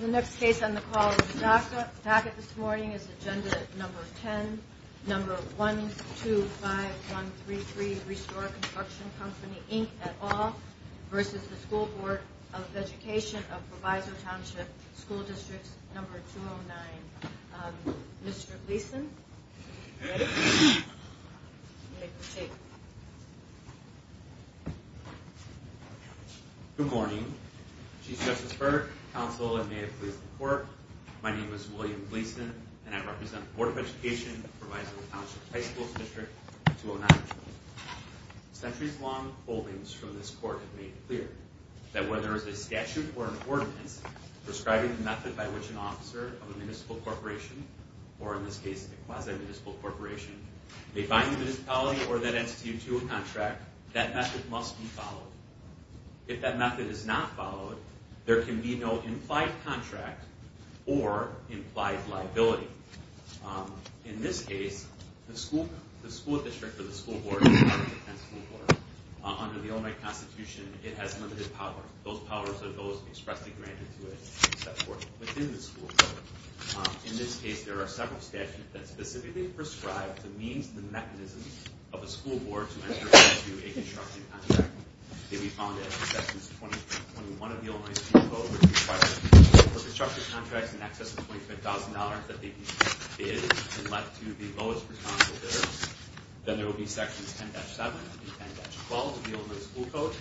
The next case on the call is DACA. DACA this morning is Agenda No. 10, No. 125133, Restore Construction Company, Inc. et al. v. School Board of Education of Proviso Township School District No. 209. Mr. Gleason. Good morning. Chief Justice Burdick, counsel, and may it please the court, my name is William Gleason and I represent the Board of Education of Proviso Township High School District 209. Centuries-long holdings from this court have made it clear that whether there is a statute or an ordinance prescribing the method by which an officer of a municipal corporation, or in this case a quasi-municipal corporation, may find the municipality or that entity to a contract, that method must be followed. If that method is not followed, there can be no implied contract or implied liability. In this case, the school district or the school board is not a defense school board. Under the Illinois Constitution, it has limited power. Those powers are those expressly granted to it, except for within the school board. In this case, there are several statutes that specifically prescribe the means and the mechanisms of a school board to enter into a construction contract. They would be found in Sections 20 and 21 of the Illinois School Code, which require that for construction contracts in excess of $25,000 that they be bid and let to the lowest responsible bidder. Then there would be Sections 10-7 and 10-12 of the Illinois School Code,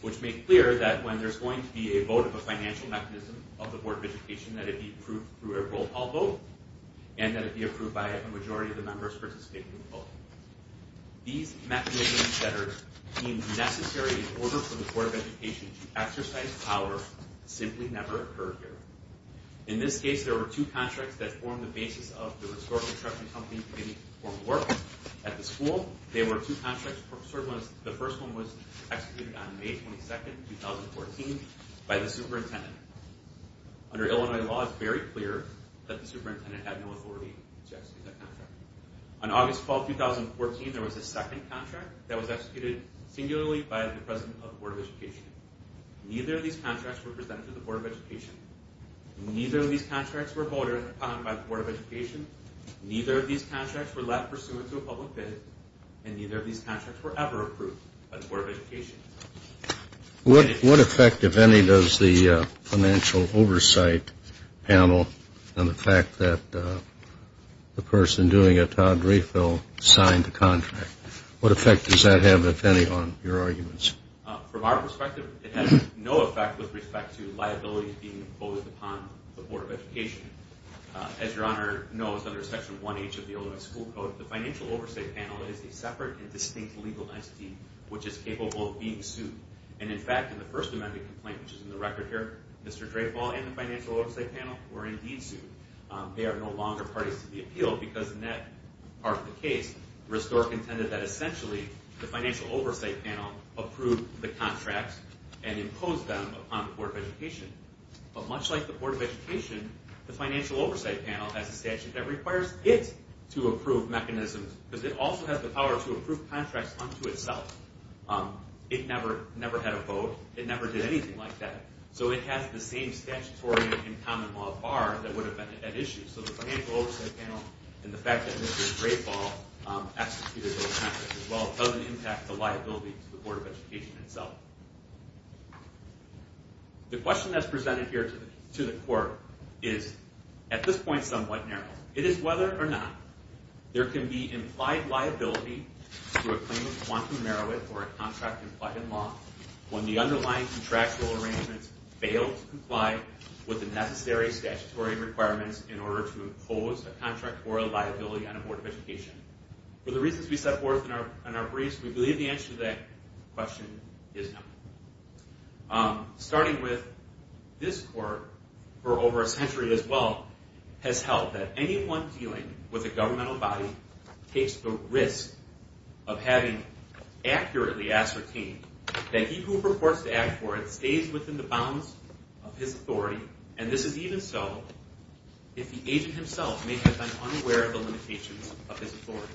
which make clear that when there's going to be a vote of a financial mechanism of the Board of Education, that it be approved through a roll call vote, and that it be approved by a majority of the members participating in the vote. These mechanisms that are deemed necessary in order for the Board of Education to exercise power simply never occur here. In this case, there were two contracts that formed the basis of the Restored Construction Company Committee's work at the school. The first one was executed on May 22, 2014 by the superintendent. Under Illinois law, it's very clear that the superintendent had no authority to execute that contract. On August 12, 2014, there was a second contract that was executed singularly by the president of the Board of Education. Neither of these contracts were presented to the Board of Education. Neither of these contracts were voted upon by the Board of Education. Neither of these contracts were left pursuant to a public bid, and neither of these contracts were ever approved by the Board of Education. What effect, if any, does the financial oversight panel on the fact that the person doing a Todd refill signed the contract? What effect does that have, if any, on your arguments? From our perspective, it has no effect with respect to liabilities being imposed upon the Board of Education. As Your Honor knows, under Section 1H of the Illinois School Code, the financial oversight panel is a separate and distinct legal entity which is capable of being sued. And in fact, in the First Amendment complaint, which is in the record here, Mr. Drayvall and the financial oversight panel were indeed sued. They are no longer parties to the appeal because in that part of the case, Restore intended that essentially the financial oversight panel approve the contracts and impose them upon the Board of Education. But much like the Board of Education, the financial oversight panel has a statute that requires it to approve mechanisms. Because it also has the power to approve contracts unto itself. It never had a vote. It never did anything like that. So it has the same statutory and common law bar that would have been at issue. So the financial oversight panel and the fact that Mr. Drayvall executed those contracts as well doesn't impact the liability to the Board of Education itself. The question that's presented here to the court is at this point somewhat narrow. It is whether or not there can be implied liability to a claim of quantum merit or a contract implied in law when the underlying contractual arrangements fail to comply with the necessary statutory requirements in order to impose a contract or a liability on a Board of Education. For the reasons we set forth in our briefs, we believe the answer to that question is no. Starting with, this court, for over a century as well, has held that anyone dealing with a governmental body takes the risk of having accurately ascertained that he who purports to act for it stays within the bounds of his authority. And this is even so if the agent himself may have been unaware of the limitations of his authority.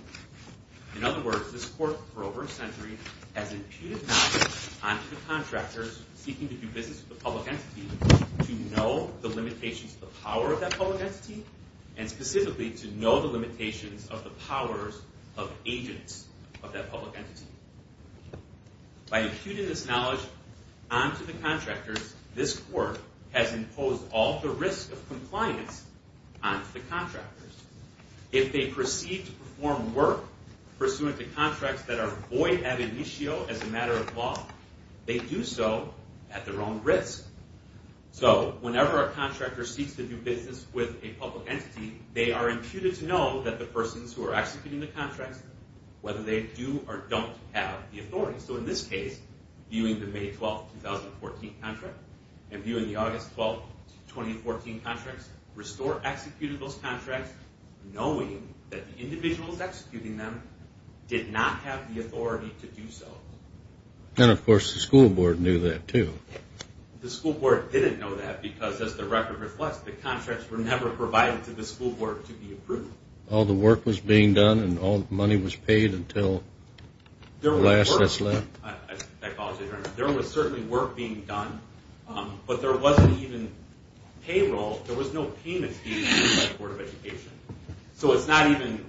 In other words, this court, for over a century, has imputed knowledge onto the contractors seeking to do business with a public entity to know the limitations of the power of that public entity and specifically to know the limitations of the powers of agents of that public entity. By imputing this knowledge onto the contractors, this court has imposed all the risk of compliance onto the contractors. If they proceed to perform work pursuant to contracts that are void ab initio as a matter of law, they do so at their own risk. So whenever a contractor seeks to do business with a public entity, they are imputed to know that the persons who are executing the contracts, whether they do or don't have the authority. So in this case, viewing the May 12, 2014 contract and viewing the August 12, 2014 contracts, Restore executed those contracts knowing that the individuals executing them did not have the authority to do so. And of course the school board knew that too. The school board didn't know that because as the record reflects, the contracts were never provided to the school board to be approved. All the work was being done and all the money was paid until the last that's left? I apologize. There was certainly work being done, but there wasn't even payroll. There was no payments being made by the Board of Education. So it's not even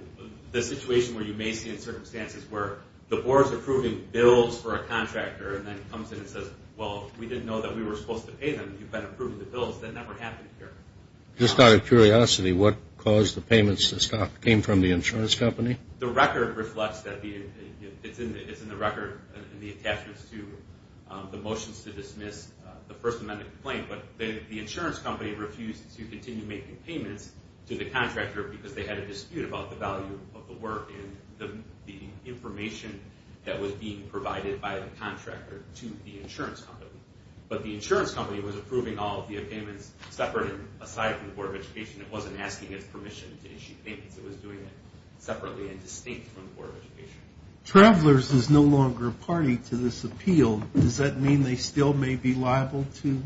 the situation where you may see in circumstances where the board is approving bills for a contractor and then comes in and says, Well, we didn't know that we were supposed to pay them. You've been approving the bills. That never happened here. Just out of curiosity, what caused the payments to stop? It came from the insurance company? The record reflects that. It's in the record and the attachments to the motions to dismiss the First Amendment claim. But the insurance company refused to continue making payments to the contractor because they had a dispute about the value of the work and the information that was being provided by the contractor to the insurance company. But the insurance company was approving all of the payments separate and aside from the Board of Education. It wasn't asking its permission to issue payments. It was doing it separately and distinct from the Board of Education. Travelers is no longer party to this appeal. Does that mean they still may be liable to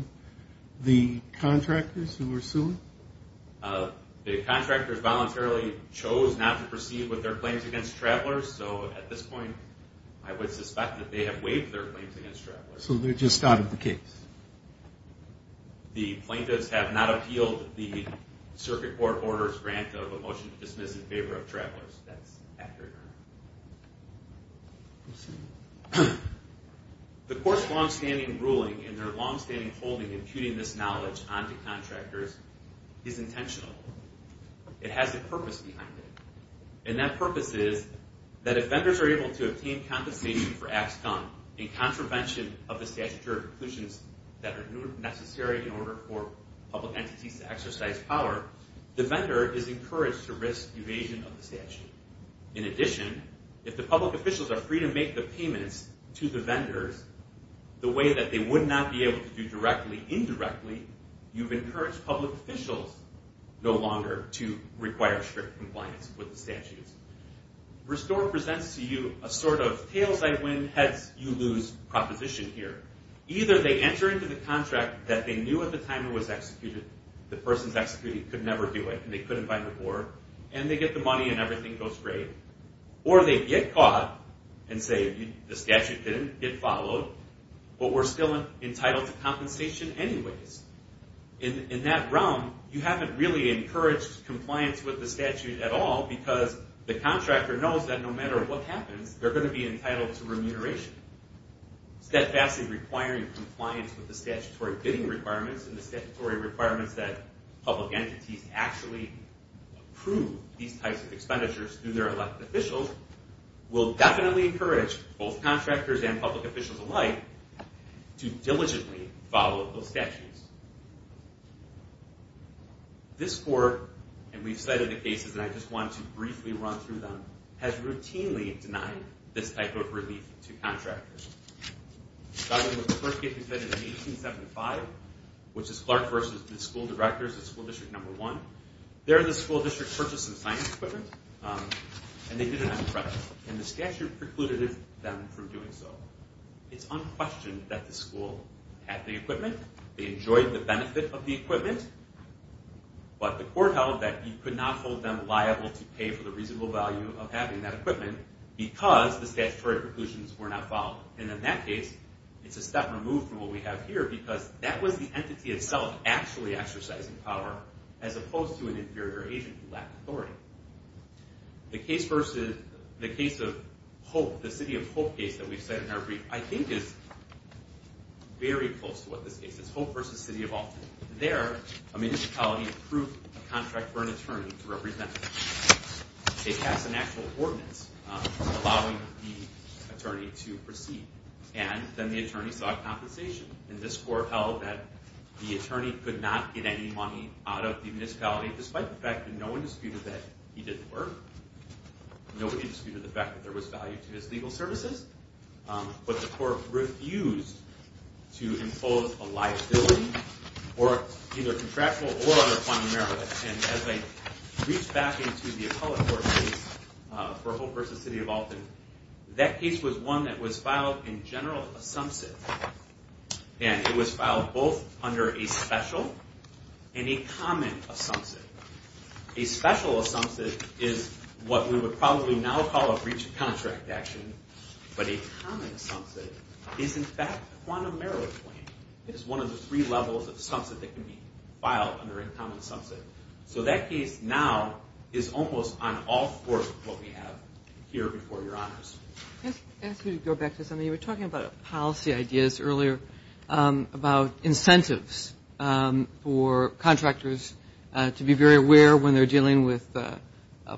the contractors who are suing? The contractors voluntarily chose not to proceed with their claims against travelers. So at this point, I would suspect that they have waived their claims against travelers. So they're just out of the case? The plaintiffs have not appealed the circuit court order's grant of a motion to dismiss in favor of travelers. That's accurate. The court's longstanding ruling and their longstanding holding imputing this knowledge onto contractors is intentional. It has a purpose behind it. And that purpose is that if vendors are able to obtain compensation for acts done in contravention of the statutory preclusions that are necessary in order for public entities to exercise power, the vendor is encouraged to risk evasion of the statute. In addition, if the public officials are free to make the payments to the vendors the way that they would not be able to do directly, indirectly, you've encouraged public officials no longer to require strict compliance with the statutes. Restore presents to you a sort of tails-I-win, heads-you-lose proposition here. Either they enter into the contract that they knew at the time it was executed, the person's executed, could never do it, and they couldn't buy the board, and they get the money and everything goes great. Or they get caught and say, the statute didn't get followed, but we're still entitled to compensation anyways. In that realm, you haven't really encouraged compliance with the statute at all because the contractor knows that no matter what happens, they're going to be entitled to remuneration. Steadfastly requiring compliance with the statutory bidding requirements and the statutory requirements that public entities actually approve these types of expenditures through their elected officials will definitely encourage both contractors and public officials alike to diligently follow those statutes. This court, and we've cited the cases, and I just want to briefly run through them, has routinely denied this type of relief to contractors. The first case was in 1875, which is Clark v. The School Directors of School District No. 1. They're the school district's purchase of science equipment, and they did it on credit, and the statute precluded them from doing so. It's unquestioned that the school had the equipment, they enjoyed the benefit of the equipment, but the court held that you could not hold them liable to pay for the reasonable value of having that equipment because the statutory preclusions were not followed. And in that case, it's a step removed from what we have here because that was the entity itself actually exercising power as opposed to an inferior agent who lacked authority. The case of Hope, the City of Hope case that we've cited in our brief, I think is very close to what this case is, Hope v. City of Alton. There, a municipality approved a contract for an attorney to represent them. They passed an actual ordinance allowing the attorney to proceed, and then the attorney sought compensation. And this court held that the attorney could not get any money out of the municipality despite the fact that no one disputed that he didn't work. Nobody disputed the fact that there was value to his legal services. But the court refused to impose a liability or either contractual or other kind of merit. And as I reach back into the appellate court case for Hope v. City of Alton, that case was one that was filed in general assumption. And it was filed both under a special and a common assumption. A special assumption is what we would probably now call a breach of contract action, but a common assumption is in fact a quantum merit claim. It is one of the three levels of assumption that can be filed under a common assumption. So that case now is almost on all fours of what we have here before Your Honors. I'm going to ask you to go back to something you were talking about policy ideas earlier about incentives for contractors to be very aware when they're dealing with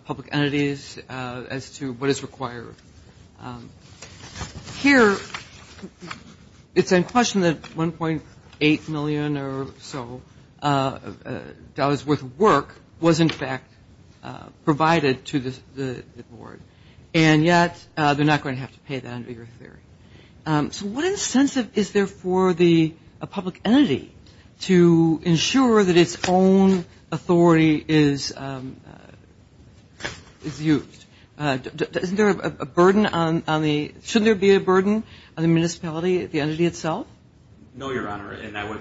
public entities as to what is required. Here it's in question that $1.8 million or so dollars worth of work was in fact provided to the board. And yet they're not going to have to pay that under your theory. So what incentive is there for a public entity to ensure that its own authority is used? Isn't there a burden on the – shouldn't there be a burden on the municipality, the entity itself? No, Your Honor, and I would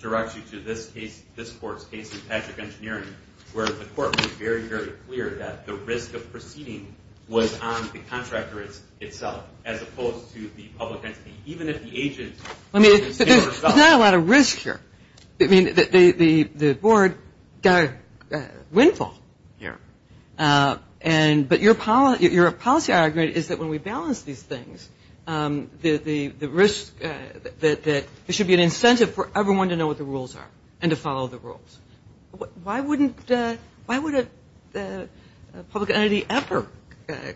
direct you to this case, this court's case in Patrick Engineering, where the court was very, very clear that the risk of proceeding was on the contractor itself as opposed to the public entity, even if the agent did the same result. There's not a lot of risk here. The board got a windfall here. But your policy argument is that when we balance these things, the risk that there should be an incentive for everyone to know what the rules are and to follow the rules. Why would a public entity ever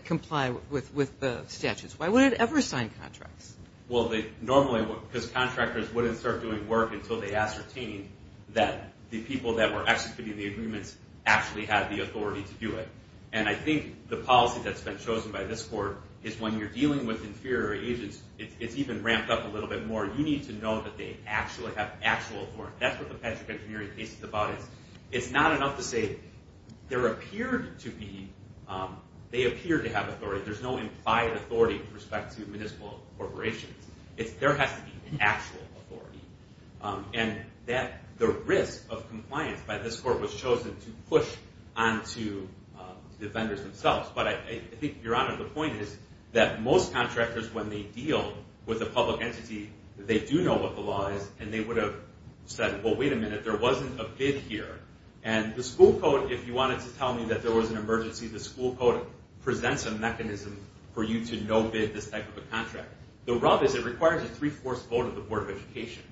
comply with the statutes? Why would it ever sign contracts? Well, normally, because contractors wouldn't start doing work until they ascertained that the people that were executing the agreements actually had the authority to do it. And I think the policy that's been chosen by this court is when you're dealing with inferior agents, it's even ramped up a little bit more. You need to know that they actually have actual authority. That's what the Patrick Engineering case is about. It's not enough to say there appeared to be – they appear to have authority. There's no implied authority with respect to municipal corporations. There has to be actual authority. And the risk of compliance by this court was chosen to push onto the vendors themselves. But I think, Your Honor, the point is that most contractors, when they deal with a public entity, they do know what the law is, and they would have said, well, wait a minute, there wasn't a bid here. And the school code, if you wanted to tell me that there was an emergency, the school code presents a mechanism for you to no-bid this type of a contract. The rub is it requires a three-fourths vote of the Board of Education.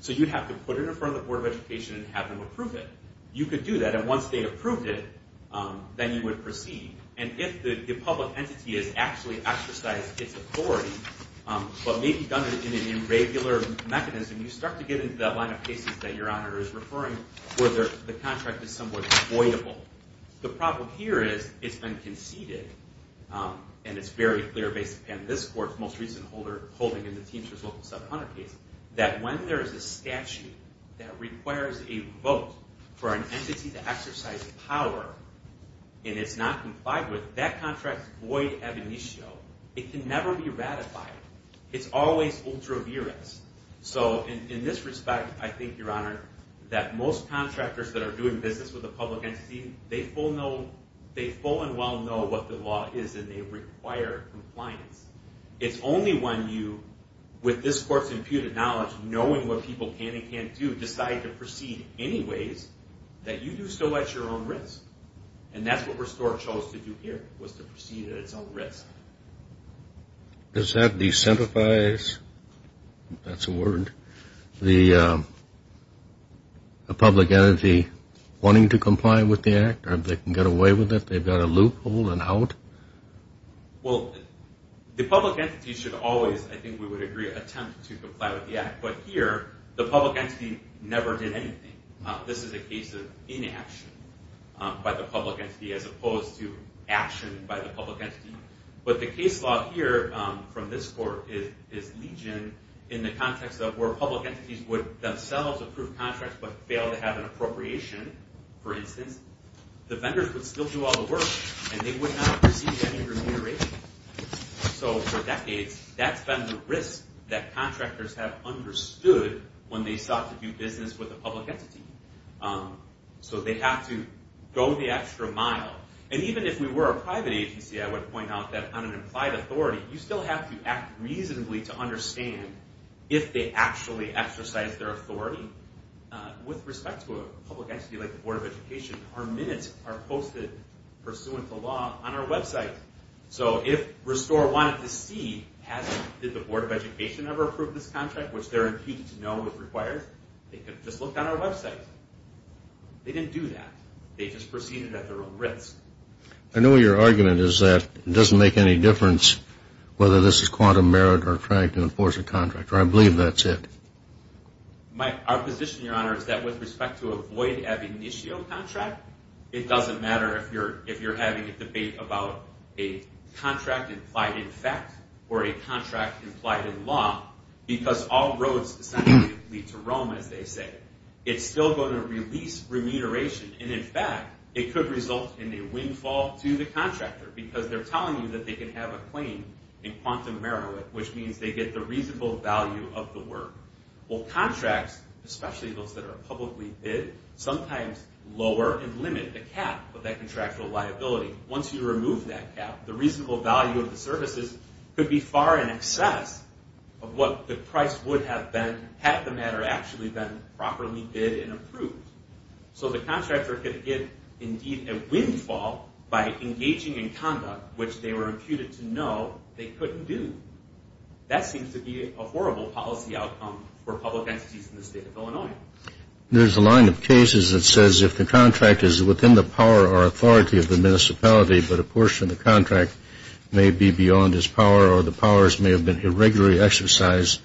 So you'd have to put it in front of the Board of Education and have them approve it. You could do that, and once they approved it, then you would proceed. And if the public entity has actually exercised its authority, but maybe done it in an irregular mechanism, you start to get into that line of cases that Your Honor is referring, where the contract is somewhat avoidable. The problem here is it's been conceded, and it's very clear based upon this court's most recent holding in the Teamsters Local 700 case, that when there is a statute that requires a vote for an entity to exercise power, and it's not complied with, that contract is void ab initio. It can never be ratified. It's always ultra-virus. So in this respect, I think, Your Honor, that most contractors that are doing business with a public entity, they full and well know what the law is, and they require compliance. It's only when you, with this court's imputed knowledge, knowing what people can and can't do, decide to proceed anyways, that you do so at your own risk. And that's what Restore chose to do here, was to proceed at its own risk. Does that decentrify, if that's a word, the public entity wanting to comply with the Act, or if they can get away with it? They've got a loophole and out? Well, the public entity should always, I think we would agree, attempt to comply with the Act. But here, the public entity never did anything. This is a case of inaction by the public entity, as opposed to action by the public entity. But the case law here, from this court, is legion, in the context of where public entities would themselves approve contracts, but fail to have an appropriation, for instance. The vendors would still do all the work, and they would not receive any remuneration. So for decades, that's been the risk that contractors have understood when they sought to do business with a public entity. So they have to go the extra mile. And even if we were a private agency, I would point out that on an implied authority, you still have to act reasonably to understand if they actually exercised their authority. With respect to a public entity like the Board of Education, our minutes are posted, pursuant to law, on our website. So if Restore wanted to see, did the Board of Education ever approve this contract, which they're impeached to know it requires, they could have just looked on our website. They didn't do that. They just proceeded at their own risk. I know your argument is that it doesn't make any difference whether this is quantum merit or trying to enforce a contract, or I believe that's it. Mike, our position, Your Honor, is that with respect to a void ab initio contract, it doesn't matter if you're having a debate about a contract implied in fact or a contract implied in law, because all roads essentially lead to Rome, as they say. It's still going to release remuneration, and in fact, it could result in a windfall to the contractor, because they're telling you that they can have a claim in quantum merit, which means they get the reasonable value of the work. Well, contracts, especially those that are publicly bid, sometimes lower and limit the cap of that contractual liability. Once you remove that cap, the reasonable value of the services could be far in excess of what the price would have been had the matter actually been properly bid and approved. So the contractor could get, indeed, a windfall by engaging in conduct, which they were imputed to know they couldn't do. That seems to be a horrible policy outcome for public entities in the state of Illinois. There's a line of cases that says if the contract is within the power or authority of the municipality, but a portion of the contract may be beyond its power or the powers may have been irregularly exercised,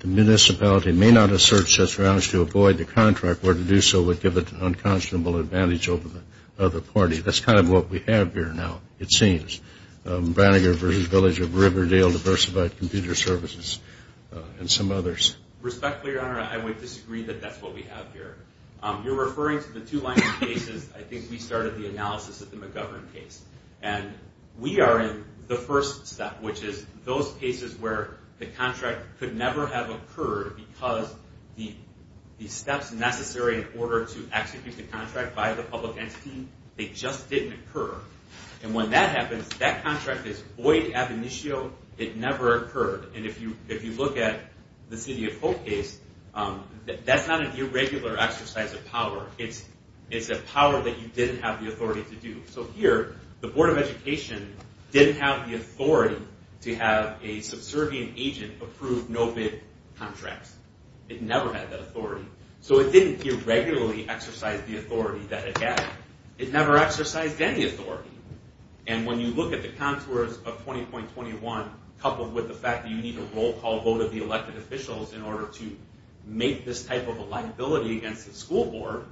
the municipality may not assert such grounds to avoid the contract, where to do so would give it an unconscionable advantage over the party. That's kind of what we have here now, it seems. Brannager v. Village of Riverdale, diversified computer services, and some others. Respectfully, Your Honor, I would disagree that that's what we have here. You're referring to the two lines of cases. I think we started the analysis of the McGovern case. And we are in the first step, which is those cases where the contract could never have occurred because the steps necessary in order to execute the contract by the public entity, they just didn't occur. And when that happens, that contract is void ab initio. It never occurred. And if you look at the City of Hope case, that's not an irregular exercise of power. It's a power that you didn't have the authority to do. So here, the Board of Education didn't have the authority to have a subservient agent approve no-bid contracts. It never had that authority. So it didn't irregularly exercise the authority that it had. It never exercised any authority. And when you look at the contours of 20.21, coupled with the fact that you need a roll call vote of the elected officials in order to make this type of a liability against the school board,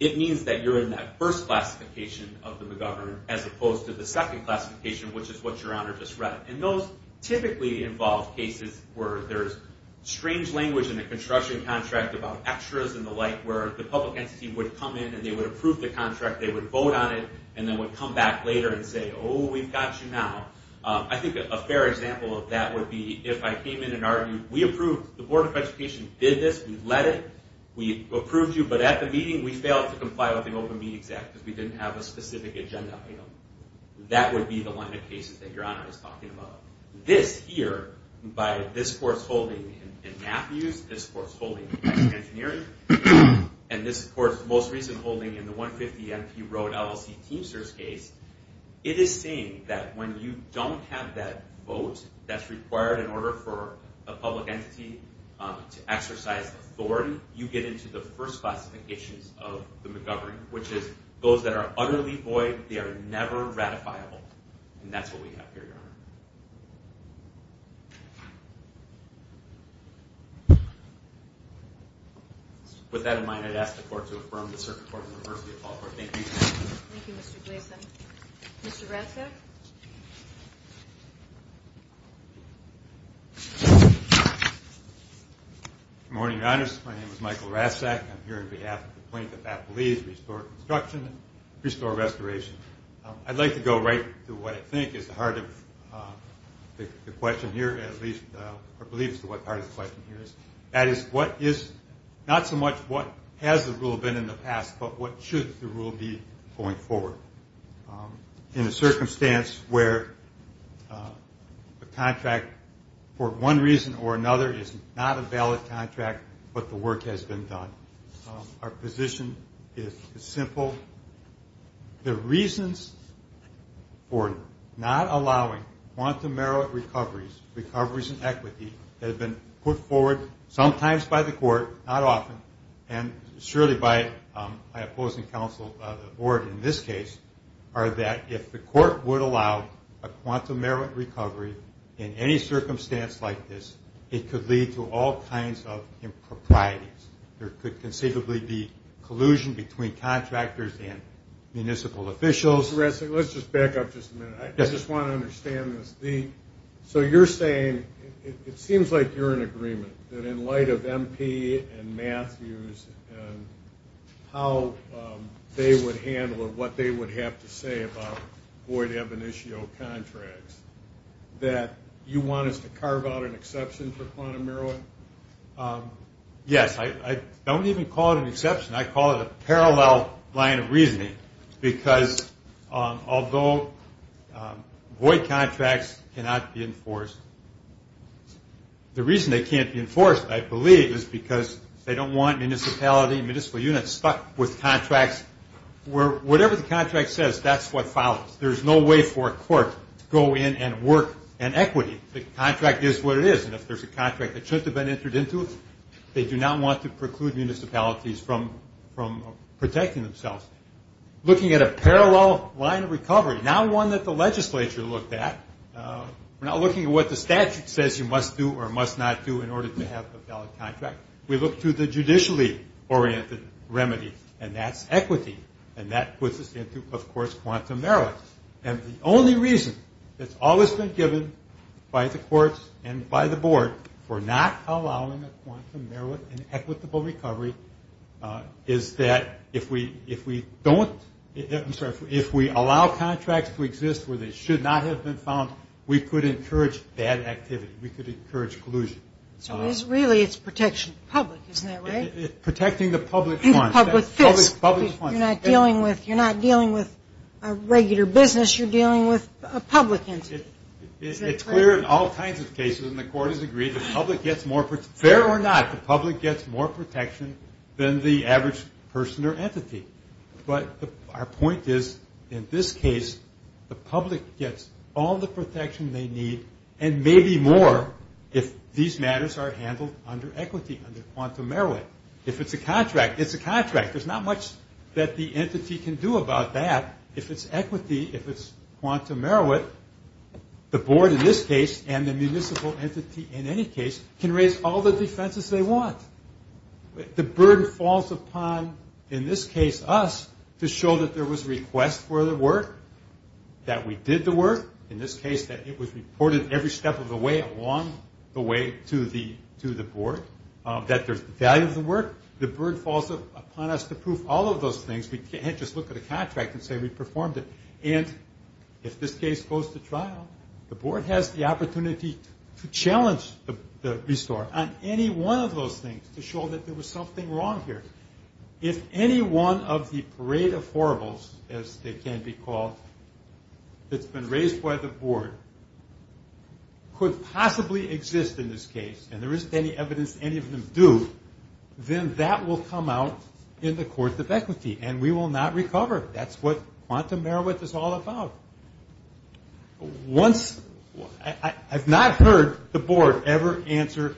it means that you're in that first classification of the McGovern as opposed to the second classification, which is what Your Honor just read. And those typically involved cases where there's strange language in the construction contract about extras and the like, where the public entity would come in and they would approve the contract, they would vote on it, and then would come back later and say, oh, we've got you now. I think a fair example of that would be if I came in and argued, we approved, the Board of Education did this, we let it, we approved you, but at the meeting, we failed to comply with the Open Meeting Act because we didn't have a specific agenda item. That would be the line of cases that Your Honor is talking about. This here, by this court's holding in Matthews, this court's holding in Texas Engineering, and this court's most recent holding in the 150 MP Road LLC Teamsters case, it is saying that when you don't have that vote that's required in order for a public entity to exercise authority, you get into the first classifications of the McGovern, which is those that are utterly void, they are never ratifiable. And that's what we have here, Your Honor. With that in mind, I'd ask the court to affirm the circuit court and the reverse of the appellate court. Thank you. Thank you, Mr. Gleason. Mr. Ratzak? Good morning, Your Honors. My name is Michael Ratzak. I'm here on behalf of the Plaintiff Appellees to restore construction, restore restoration. I'd like to go right to what I think is the heart of the question here, at least I believe it's the heart of the question here. That is, what is, not so much what has the rule been in the past, but what should the rule be going forward? In a circumstance where the contract, for one reason or another, is not a valid contract, but the work has been done. Our position is simple. The reasons for not allowing quantum merit recoveries, recoveries in equity, that have been put forward sometimes by the court, not often, and surely by my opposing counsel, the board in this case, are that if the court would allow a quantum merit recovery in any circumstance like this, it could lead to all kinds of improprieties. There could conceivably be collusion between contractors and municipal officials. Mr. Ratzak, let's just back up just a minute. I just want to understand this. So you're saying, it seems like you're in agreement, that in light of MP and Matthews and how they would handle it, what they would have to say about void ebonitio contracts, that you want us to carve out an exception for quantum merit? Yes, I don't even call it an exception. I call it a parallel line of reasoning because although void contracts cannot be enforced, the reason they can't be enforced, I believe, is because they don't want municipality and municipal units stuck with contracts where whatever the contract says, that's what follows. There's no way for a court to go in and work an equity. The contract is what it is, and if there's a contract that shouldn't have been entered into, they do not want to preclude municipalities from protecting themselves. Looking at a parallel line of recovery, not one that the legislature looked at. We're not looking at what the statute says you must do or must not do in order to have a valid contract. We look to the judicially oriented remedy, and that's equity, and that puts us into, of course, quantum merit. And the only reason that's always been given by the courts and by the board for not allowing a quantum merit and equitable recovery is that if we allow contracts to exist where they should not have been found, we could encourage bad activity. We could encourage collusion. So really it's protection of the public, isn't that right? Protecting the public funds. You're not dealing with a regular business. You're dealing with a public entity. It's clear in all kinds of cases, and the court has agreed, the public gets more protection. Fair or not, the public gets more protection than the average person or entity. But our point is, in this case, the public gets all the protection they need and maybe more if these matters are handled under equity, under quantum merit. If it's a contract, it's a contract. There's not much that the entity can do about that. If it's equity, if it's quantum merit, the board in this case and the municipal entity in any case can raise all the defenses they want. The burden falls upon, in this case, us, to show that there was a request for the work, that we did the work, in this case that it was reported every step of the way along the way to the board, that there's the value of the work. The burden falls upon us to prove all of those things. We can't just look at a contract and say we performed it. And if this case goes to trial, the board has the opportunity to challenge the restore on any one of those things to show that there was something wrong here. If any one of the parade of horribles, as they can be called, that's been raised by the board could possibly exist in this case, and there isn't any evidence any of them do, then that will come out in the court of equity, and we will not recover. That's what quantum merit is all about. Once... I've not heard the board ever answer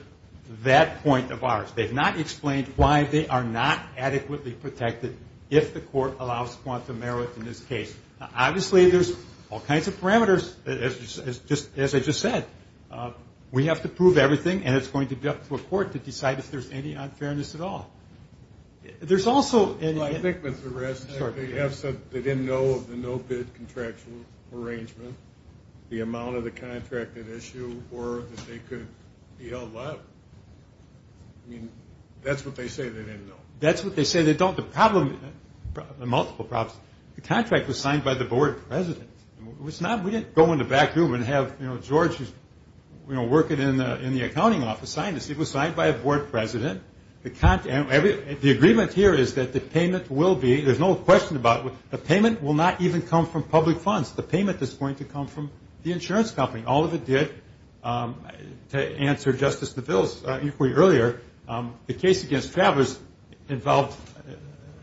that point of ours. They've not explained why they are not adequately protected if the court allows quantum merit in this case. Now, obviously, there's all kinds of parameters, as I just said. We have to prove everything, and it's going to be up to a court to decide if there's any unfairness at all. There's also... Well, I think with the rest, they didn't know of the no-bid contractual arrangement, the amount of the contract at issue, or that they could be held liable. I mean, that's what they say they didn't know. That's what they say they don't. The problem... multiple problems. The contract was signed by the board president. We didn't go in the back room and have George, who's working in the accounting office, sign this. It was signed by a board president. The agreement here is that the payment will be... There's no question about it. The payment will not even come from public funds. The payment is going to come from the insurance company. All of it did, to answer Justice DeVille's inquiry earlier. The case against Travers involved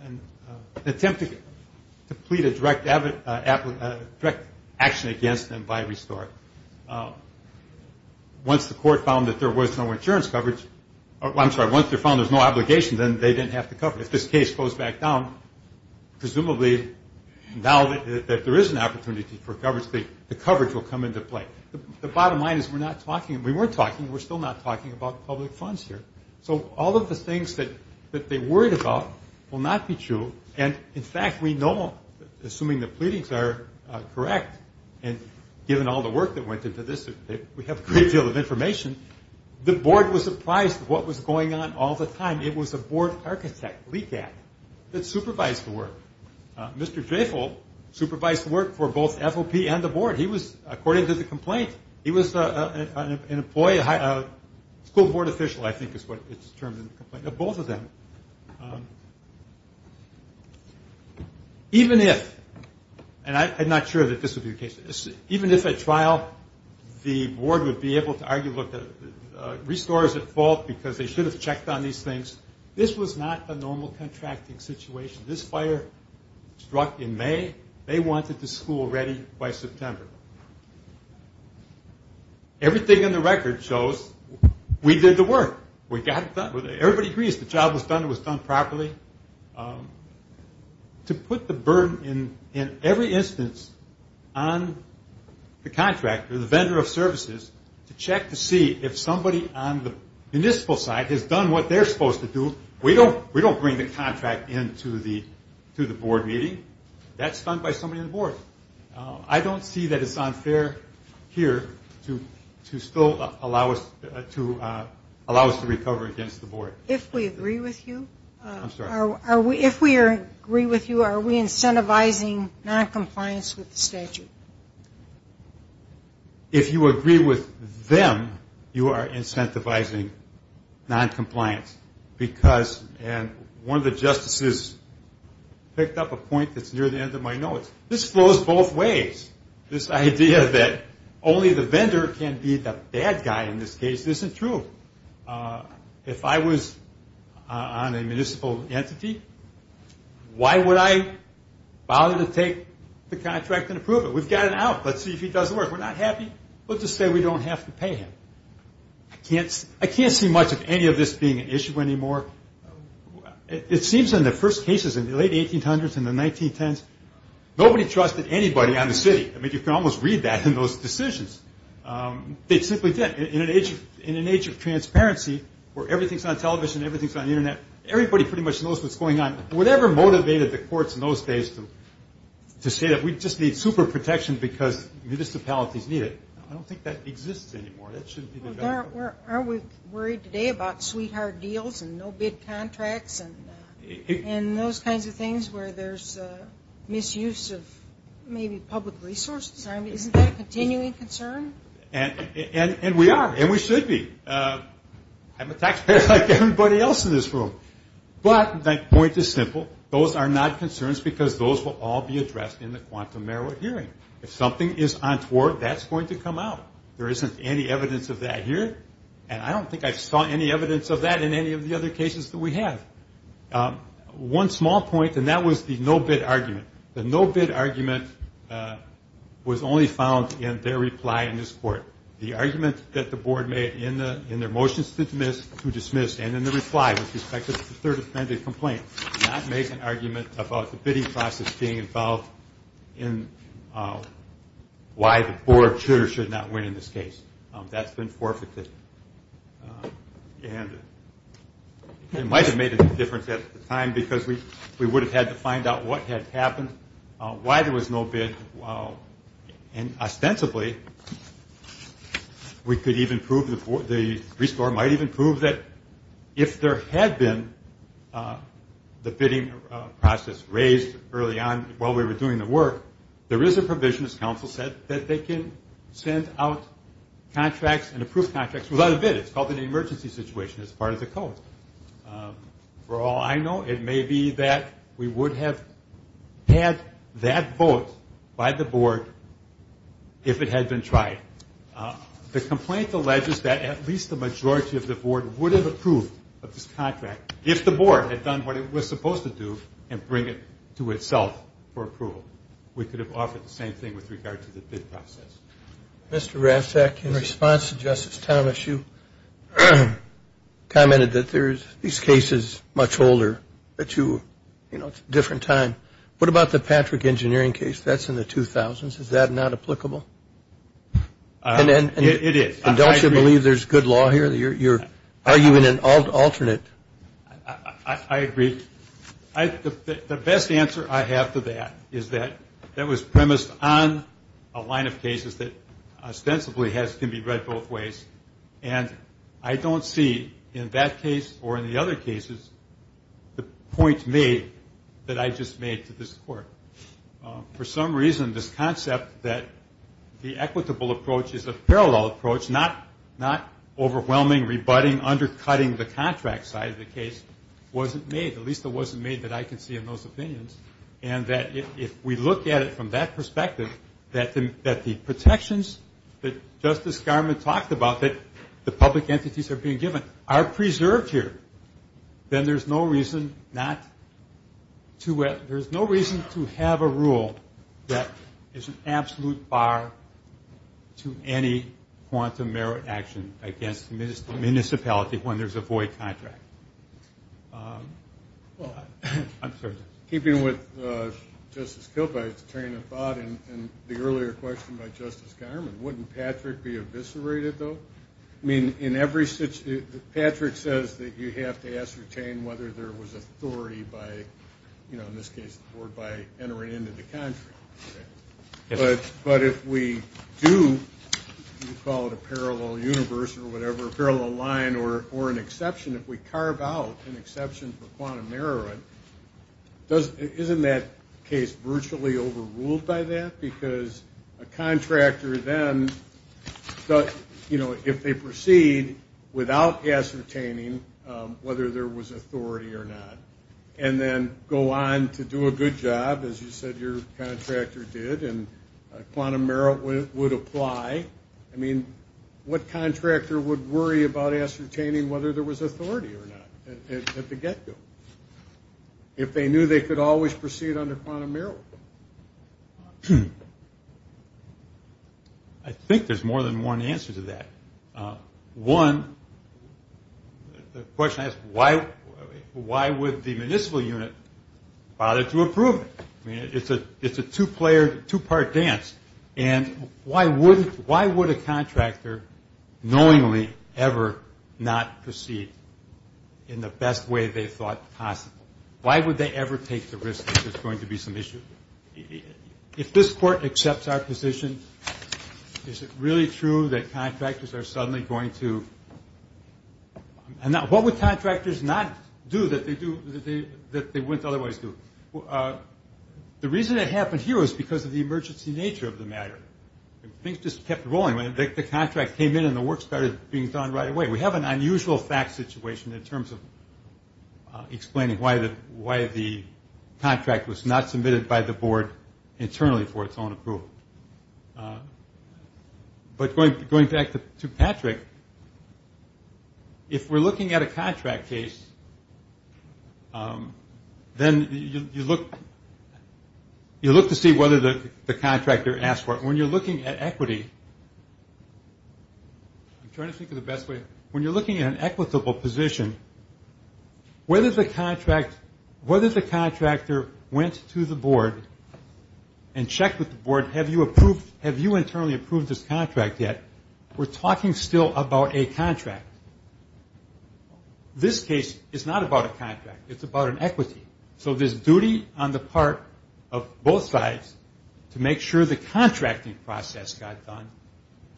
an attempt to plead a direct action against them by Restore. Once the court found that there was no insurance coverage... I'm sorry, once they found there was no obligation, then they didn't have to cover it. If this case goes back down, presumably now that there is an opportunity for coverage, the coverage will come into play. The bottom line is we're not talking... So all of the things that they worried about will not be true. And, in fact, we know, assuming the pleadings are correct, and given all the work that went into this, we have a great deal of information, the board was surprised at what was going on all the time. It was a board architect, Leacack, that supervised the work. Mr. Dreyfuss supervised the work for both FOP and the board. He was, according to the complaint, he was an employee, a school board official, I think is what it's termed in the complaint. Both of them. Even if, and I'm not sure that this would be the case, even if at trial the board would be able to argue, look, Restore is at fault because they should have checked on these things. This was not a normal contracting situation. This fire struck in May. They wanted the school ready by September. Everything in the record shows we did the work. We got it done. Everybody agrees the job was done, it was done properly. To put the burden, in every instance, on the contractor, the vendor of services, to check to see if somebody on the municipal side has done what they're supposed to do, we don't bring the contract into the board meeting. That's done by somebody on the board. I don't see that it's unfair here to still allow us to recover against the board. If we agree with you? I'm sorry. If we agree with you, are we incentivizing noncompliance with the statute? If you agree with them, you are incentivizing noncompliance and one of the justices picked up a point that's near the end of my notes. This flows both ways. This idea that only the vendor can be the bad guy in this case, this isn't true. If I was on a municipal entity, why would I bother to take the contract and approve it? We've got it out. Let's see if he does the work. We're not happy. Let's just say we don't have to pay him. I can't see much of any of this being an issue anymore. It seems in the first cases, in the late 1800s and the 1910s, nobody trusted anybody on the city. You can almost read that in those decisions. They simply did. In an age of transparency, where everything's on television, everything's on the internet, everybody pretty much knows what's going on. Whatever motivated the courts in those days to say that we just need super protection because municipalities need it, I don't think that exists anymore. Are we worried today about sweetheart deals and no-bid contracts and those kinds of things where there's misuse of maybe public resources? Isn't that a continuing concern? And we are, and we should be. I'm a taxpayer like everybody else in this room. But the point is simple. Those are not concerns because those will all be addressed in the quantum merit hearing. If something is untoward, that's going to come out. There isn't any evidence of that here, and I don't think I saw any evidence of that in any of the other cases that we have. One small point, and that was the no-bid argument. The no-bid argument was only found in their reply in this court. The argument that the board made in their motions to dismiss and in the reply with respect to the third offended complaint did not make an argument about the bidding process being involved in why the board should or should not win in this case. That's been forfeited. And it might have made a difference at the time because we would have had to find out what had happened, why there was no bid, and ostensibly we could even prove, the restore might even prove that if there had been the bidding process raised early on while we were doing the work, there is a provision, as counsel said, that they can send out contracts and approve contracts without a bid. It's called an emergency situation. It's part of the code. For all I know, it may be that we would have had that vote by the board if it had been tried. The complaint alleges that at least the majority of the board would have approved of this contract if the board had done what it was supposed to do and bring it to itself for approval. We could have offered the same thing with regard to the bid process. Mr. Rasek, in response to Justice Thomas, you commented that these cases are much older. It's a different time. What about the Patrick engineering case? That's in the 2000s. Is that not applicable? It is. And don't you believe there's good law here? You're arguing an alternate. I agree. The best answer I have to that is that that was premised on a line of cases that ostensibly can be read both ways, and I don't see in that case or in the other cases the point made that I just made to this court. For some reason, this concept that the equitable approach is a parallel approach, not overwhelming, rebutting, undercutting the contract side of the case, wasn't made, at least it wasn't made that I can see in those opinions, and that if we look at it from that perspective, that the protections that Justice Garment talked about, that the public entities are being given, are preserved here, then there's no reason to have a rule that is an absolute bar to any quantum merit action against the municipality when there's a void contract. Keeping with Justice Kilpatrick's train of thought and the earlier question by Justice Garment, wouldn't Patrick be eviscerated, though? I mean, Patrick says that you have to ascertain whether there was authority by, in this case, by entering into the contract. But if we do, you call it a parallel universe or whatever, a parallel line or an exception, if we carve out an exception for quantum merit, isn't that case virtually overruled by that? Because a contractor then, if they proceed without ascertaining whether there was authority or not, and then go on to do a good job, as you said your contractor did, and quantum merit would apply, I mean, what contractor would worry about ascertaining whether there was authority or not at the get-go, if they knew they could always proceed under quantum merit? I think there's more than one answer to that. One, the question I ask, why would the municipal unit bother to approve it? I mean, it's a two-part dance, and why would a contractor knowingly ever not proceed in the best way they thought possible? Why would they ever take the risk that there's going to be some issue? If this Court accepts our position, is it really true that contractors are suddenly going to... What would contractors not do that they wouldn't otherwise do? The reason it happened here was because of the emergency nature of the matter. Things just kept rolling. The contract came in and the work started being done right away. We have an unusual fact situation in terms of explaining why the contract was not submitted by the Board internally for its own approval. But going back to Patrick, if we're looking at a contract case, then you look to see whether the contractor asked for it. When you're looking at equity, I'm trying to think of the best way. When you're looking at an equitable position, whether the contractor went to the Board and checked with the Board, have you internally approved this contract yet? We're talking still about a contract. This case is not about a contract. It's about an equity. So this duty on the part of both sides to make sure the contracting process got done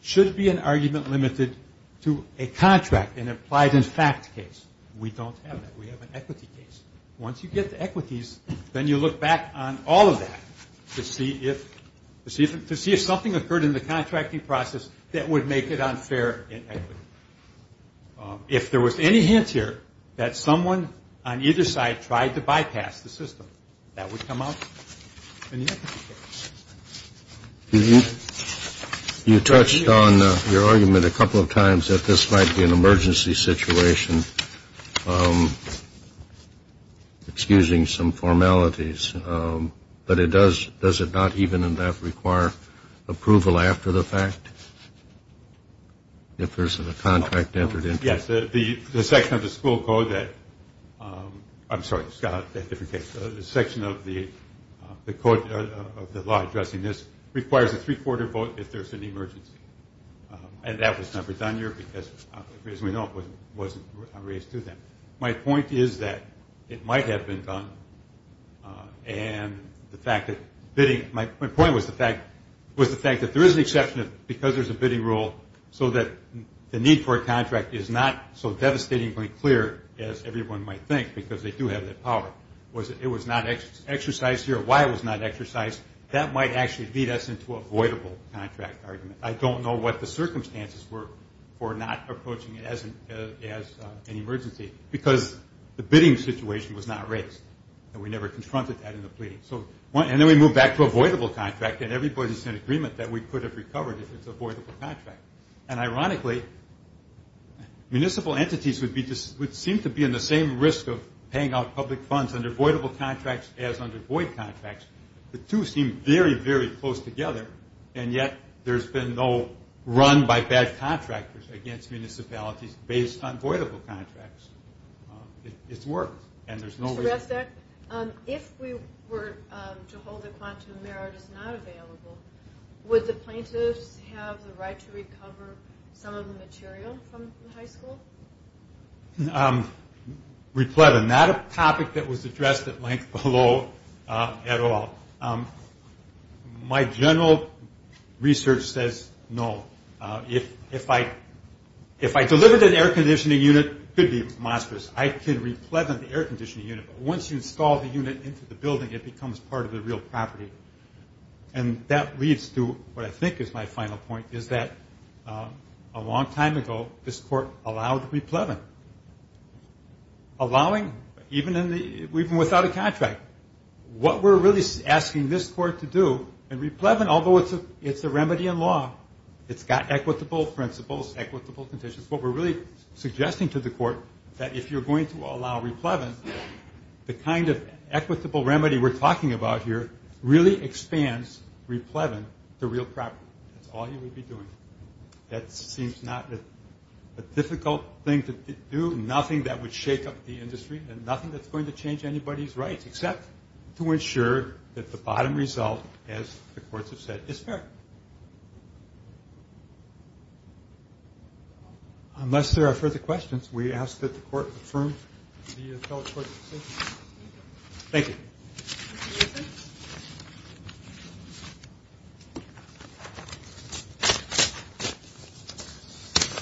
should be an argument limited to a contract, an implied in fact case. We don't have that. We have an equity case. Once you get to equities, then you look back on all of that to see if something occurred in the contracting process that would make it unfair in equity. If there was any hint here that someone on either side tried to bypass the system, that would come out in the equity case. You touched on your argument a couple of times that this might be an emergency situation, excusing some formalities, but does it not even in that require approval after the fact if there's a contract entered into it? Yes, the section of the school code that – I'm sorry, Scott, the section of the law addressing this requires a three-quarter vote if there's an emergency, and that was never done here because, as we know, it wasn't raised to them. My point is that it might have been done, and the fact that bidding – my point was the fact that there is an exception because there's a bidding rule so that the need for a contract is not so devastatingly clear as everyone might think because they do have that power. It was not exercised here. Why it was not exercised, that might actually lead us into a voidable contract argument. I don't know what the circumstances were for not approaching it as an emergency because the bidding situation was not raised, and we never confronted that in the pleading. And then we move back to a voidable contract, and everybody's in agreement that we could have recovered if it's a voidable contract. And ironically, municipal entities would seem to be in the same risk of paying out public funds under voidable contracts as under void contracts. The two seem very, very close together, and yet there's been no run by bad contractors against municipalities based on voidable contracts. It's worked, and there's no reason. Mr. Resnick, if we were to hold that quantum merit is not available, would the plaintiffs have the right to recover some of the material from the high school? Replevant. Not a topic that was addressed at length below at all. My general research says no. If I delivered an air conditioning unit, it could be monstrous. I could replevant the air conditioning unit, but once you install the unit into the building, it becomes part of the real property. And that leads to what I think is my final point, is that a long time ago, this court allowed the replevant. Allowing, even without a contract. What we're really asking this court to do, and replevant, although it's a remedy in law, it's got equitable principles, equitable conditions. What we're really suggesting to the court, that if you're going to allow replevant, the kind of equitable remedy we're talking about here, really expands replevant to real property. That's all you would be doing. That seems not a difficult thing to do, nothing that would shake up the industry, and nothing that's going to change anybody's rights, except to ensure that the bottom result, as the courts have said, is fair. Unless there are further questions, we ask that the court confirm the fellow court's decision. Thank you.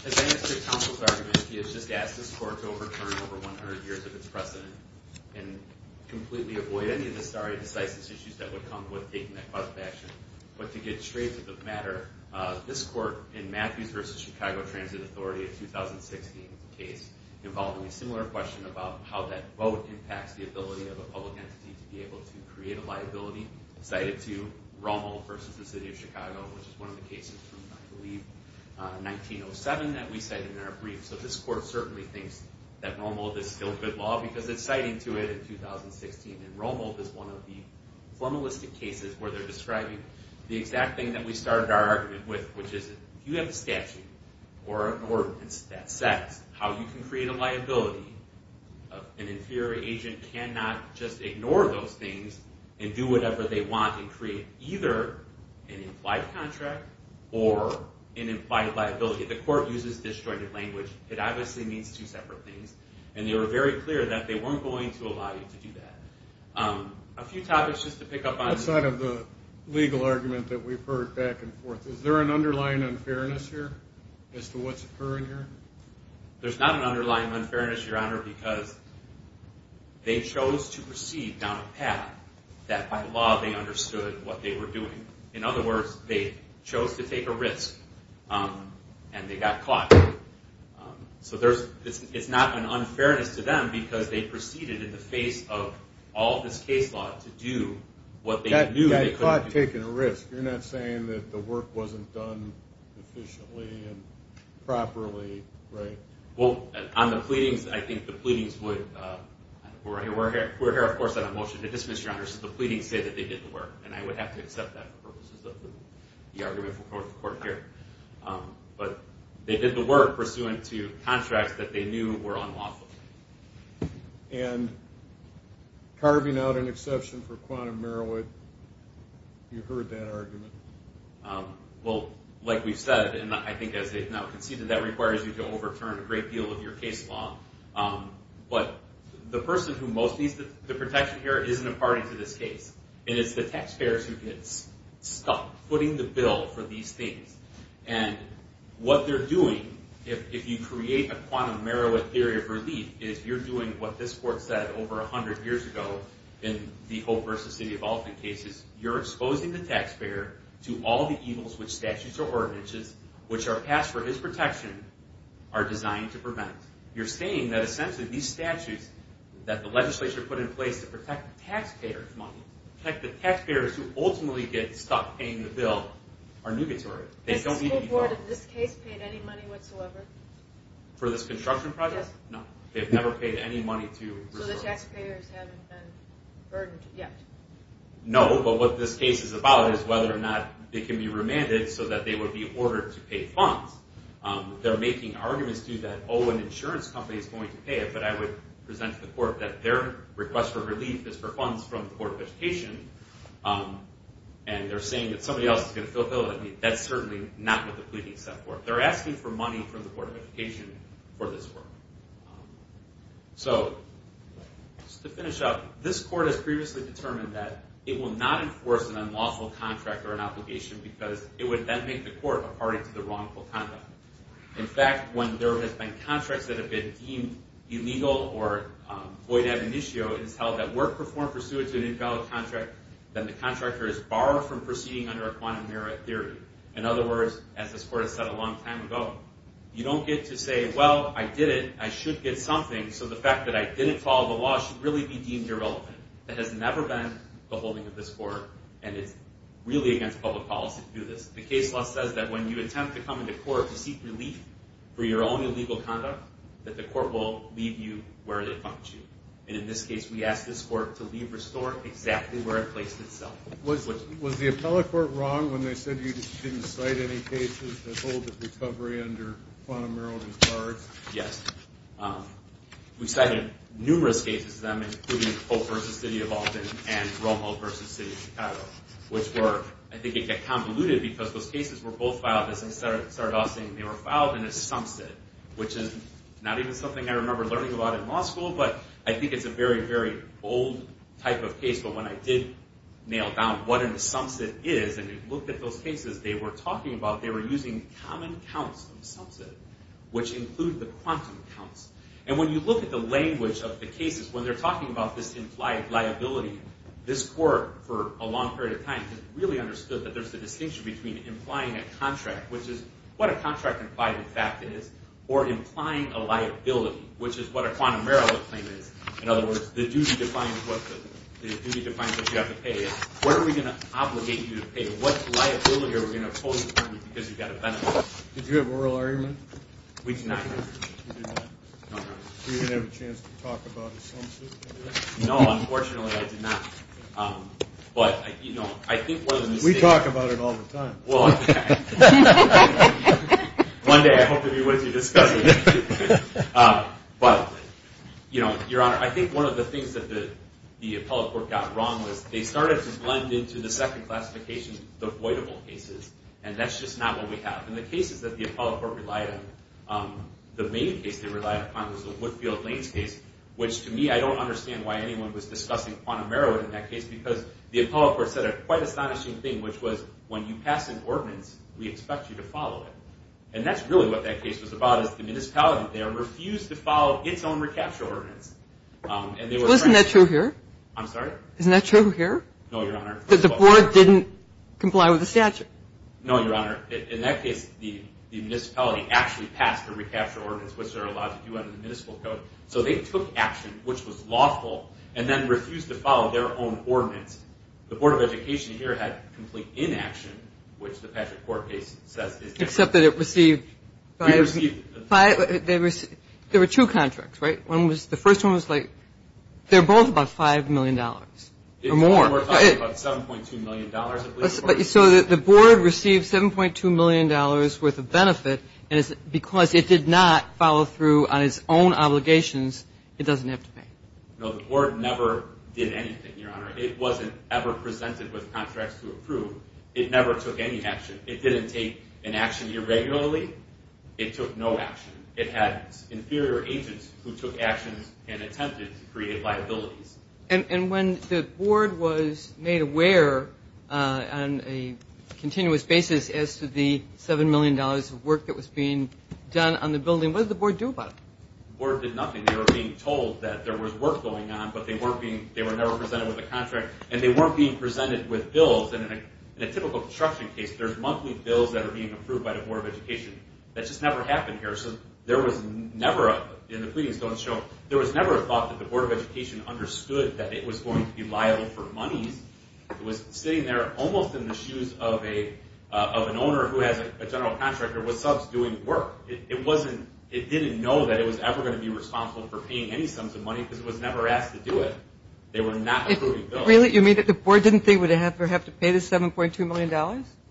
As I answered counsel's argument, he has just asked this court to overturn over 100 years of its precedent, and completely avoid any of the stare decisis issues that would come with taking that positive action. But to get straight to the matter, this court, in Matthews v. Chicago Transit Authority, a 2016 case, involved a similar question about how that vote impacts the ability of a public entity to be able to create a liability, cited to Rommel v. the City of Chicago, which is one of the cases from, I believe, 1907, that we cited in our brief. So this court certainly thinks that Rommel is still good law, because it's citing to it in 2016, and Rommel is one of the formalistic cases where they're describing the exact thing that we started our argument with, which is if you have a statute or an ordinance that sets how you can create a liability, an inferior agent cannot just ignore those things and do whatever they want and create either an implied contract or an implied liability. The court uses disjointed language. It obviously means two separate things. And they were very clear that they weren't going to allow you to do that. A few topics just to pick up on. Outside of the legal argument that we've heard back and forth, is there an underlying unfairness here as to what's occurring here? There's not an underlying unfairness, Your Honor, because they chose to proceed down a path that by law they understood what they were doing. In other words, they chose to take a risk and they got caught. So it's not an unfairness to them because they proceeded in the face of all this case law to do what they knew they couldn't do. Got caught taking a risk. You're not saying that the work wasn't done efficiently and properly, right? Well, on the pleadings, I think the pleadings would... We're here, of course, on a motion to dismiss, Your Honor, so the pleadings say that they did the work. And I would have to accept that for purposes of the argument for court here. But they did the work pursuant to contracts that they knew were unlawful. And carving out an exception for quantum Merowith, you heard that argument? Well, like we've said, and I think as they've now conceded, that requires you to overturn a great deal of your case law. But the person who most needs the protection here isn't a party to this case. It is the taxpayers who get stuck putting the bill for these things. And what they're doing, if you create a quantum Merowith theory of relief, is you're doing what this court said over 100 years ago in the Hope v. City of Alton cases. You're exposing the taxpayer to all the evils which statutes or ordinances, which are passed for his protection, are designed to prevent. You're saying that essentially these statutes that the legislature put in place to protect the taxpayers' money, protect the taxpayers who ultimately get stuck paying the bill, are nugatory. Has the school board in this case paid any money whatsoever? For this construction project? No. They've never paid any money to... So the taxpayers haven't been burdened yet. No, but what this case is about is whether or not they can be remanded so that they would be ordered to pay funds. They're making arguments, too, that, oh, an insurance company is going to pay it, but I would present to the court that their request for relief is for funds from the Board of Education. And they're saying that somebody else is going to fulfill it. That's certainly not what the pleadings are for. They're asking for money from the Board of Education for this work. So, just to finish up, this court has previously determined that it will not enforce an unlawful contract or an obligation because it would then make the court a party to the wrongful conduct. In fact, when there have been contracts that have been deemed illegal or void ad initio, it is held that work performed pursuant to an invalid contract, then the contractor is barred from proceeding under a quantum merit theory. In other words, as this court has said a long time ago, you don't get to say, well, I did it, I should get something, so the fact that I didn't follow the law should really be deemed irrelevant. That has never been the holding of this court, and it's really against public policy to do this. The case law says that when you attempt to come into court to seek relief for your own illegal conduct, that the court will leave you where they found you. And in this case, we asked this court to leave or store exactly where it placed itself. Was the appellate court wrong when they said you didn't cite any cases that hold that recovery under quantum merit and charge? Yes. We cited numerous cases of them, including Pope v. City of Alton and Romo v. City of Chicago, which were, I think it got convoluted because those cases were both filed, as I started off saying, they were filed in a sumsit, which is not even something I remember learning about in law school, but I think it's a very, very old type of case. But when I did nail down what a sumsit is and looked at those cases, they were talking about they were using common counts of sumsit, which include the quantum counts. And when you look at the language of the cases, when they're talking about this implied liability, this court, for a long period of time, has really understood that there's a distinction between implying a contract, which is what a contract implied in fact is, or implying a liability, which is what a quantum merit claim is. In other words, the duty defines what you have to pay. What are we going to obligate you to pay? What liability are we going to impose upon you because you've got a benefit? Did you have oral argument? We did not. You did not? No, I did not. You didn't have a chance to talk about a sumsit? No, unfortunately I did not. But, you know, I think it was a mistake. We talk about it all the time. Well, okay. One day I hope to be with you discussing it. But, you know, Your Honor, I think one of the things that the appellate court got wrong was they started to blend into the second classification the voidable cases, and that's just not what we have. And the cases that the appellate court relied on, the main case they relied upon was the Woodfield-Lanes case, which to me I don't understand why anyone was discussing quantum merit in that case because the appellate court said a quite astonishing thing, which was when you pass an ordinance, we expect you to follow it. And that's really what that case was about, is the municipality there refused to follow its own recapture ordinance. Wasn't that true here? I'm sorry? Isn't that true here? No, Your Honor. Because the board didn't comply with the statute. No, Your Honor. In that case, the municipality actually passed a recapture ordinance, which they're allowed to do under the municipal code. So they took action, which was lawful, and then refused to follow their own ordinance. The Board of Education here had complete inaction, which the appellate court case says is general. Except that it received five. It received. There were two contracts, right? The first one was like, they're both about $5 million or more. We're talking about $7.2 million at least. So the board received $7.2 million worth of benefit, and because it did not follow through on its own obligations, it doesn't have to pay. No, the board never did anything, Your Honor. It wasn't ever presented with contracts to approve. It never took any action. It didn't take an action irregularly. It took no action. It had inferior agents who took actions and attempted to create liabilities. And when the board was made aware on a continuous basis as to the $7 million of work that was being done on the building, what did the board do about it? The board did nothing. They were being told that there was work going on, but they were never presented with a contract, and they weren't being presented with bills. In a typical construction case, there's monthly bills that are being approved by the Board of Education. That just never happened here. So there was never a thought that the Board of Education understood that it was going to be liable for monies. It was sitting there almost in the shoes of an owner who has a general contractor with subs doing work. It didn't know that it was ever going to be responsible for paying any sums of money because it was never asked to do it. They were not approving bills. Really? You mean that the board didn't think it would have to pay the $7.2 million?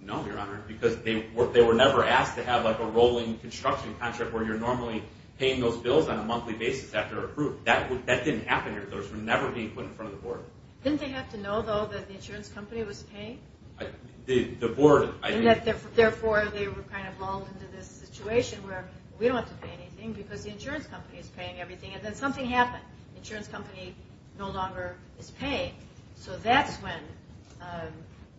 No, Your Honor, because they were never asked to have a rolling construction contract where you're normally paying those bills on a monthly basis after they're approved. That didn't happen here. Those were never being put in front of the board. Didn't they have to know, though, that the insurance company was paying? The board, I think. Therefore, they were kind of lulled into this situation where, we don't have to pay anything because the insurance company is paying everything. And then something happened. The insurance company no longer is paying. So that's when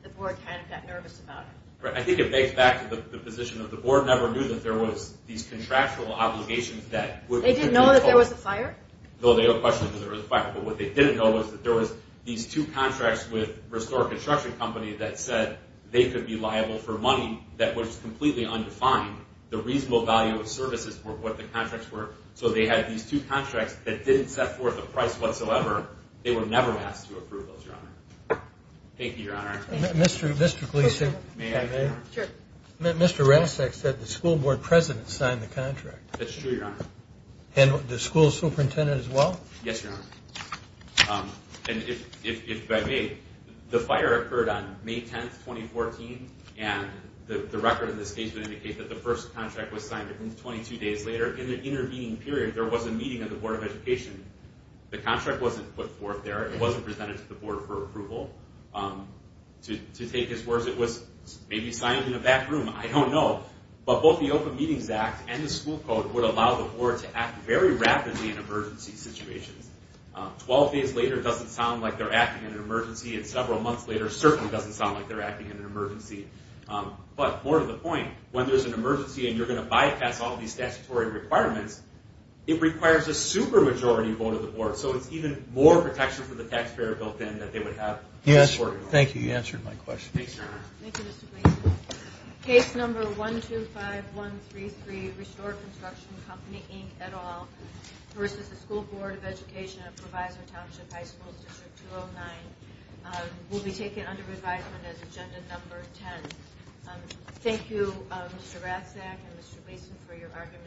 the board kind of got nervous about it. I think it begs back to the position that the board never knew that there was these contractual obligations that could be imposed. They didn't know that there was a fire? No, they don't question that there was a fire. But what they didn't know was that there was these two contracts with Restore Construction Company that said they could be liable for money that was completely undefined. The reasonable value of services were what the contracts were. So they had these two contracts that didn't set forth a price whatsoever. They were never asked to approve those, Your Honor. Thank you, Your Honor. Mr. Gleeson. May I, Your Honor? Sure. Mr. Rasek said the school board president signed the contract. That's true, Your Honor. And the school superintendent as well? Yes, Your Honor. And if I may, the fire occurred on May 10, 2014, and the record in this case would indicate that the first contract was signed 22 days later. In the intervening period, there was a meeting of the Board of Education. The contract wasn't put forth there. It wasn't presented to the board for approval. To take his words, it was maybe signed in a back room. I don't know. But both the Open Meetings Act and the school code would allow the board to act very rapidly in emergency situations. Twelve days later doesn't sound like they're acting in an emergency, and several months later certainly doesn't sound like they're acting in an emergency. But more to the point, when there's an emergency and you're going to bypass all these statutory requirements, it requires a super majority vote of the board. So it's even more protection for the taxpayer built in that they would have. Yes, thank you. You answered my question. Thank you, Mr. Gleeson. Case number 125133, Restored Construction Company, Inc., et al., versus the School Board of Education at Provisor Township High School, District 209, will be taken under revisement as agenda number 10. Thank you, Mr. Ratzak and Mr. Gleeson, for your arguments.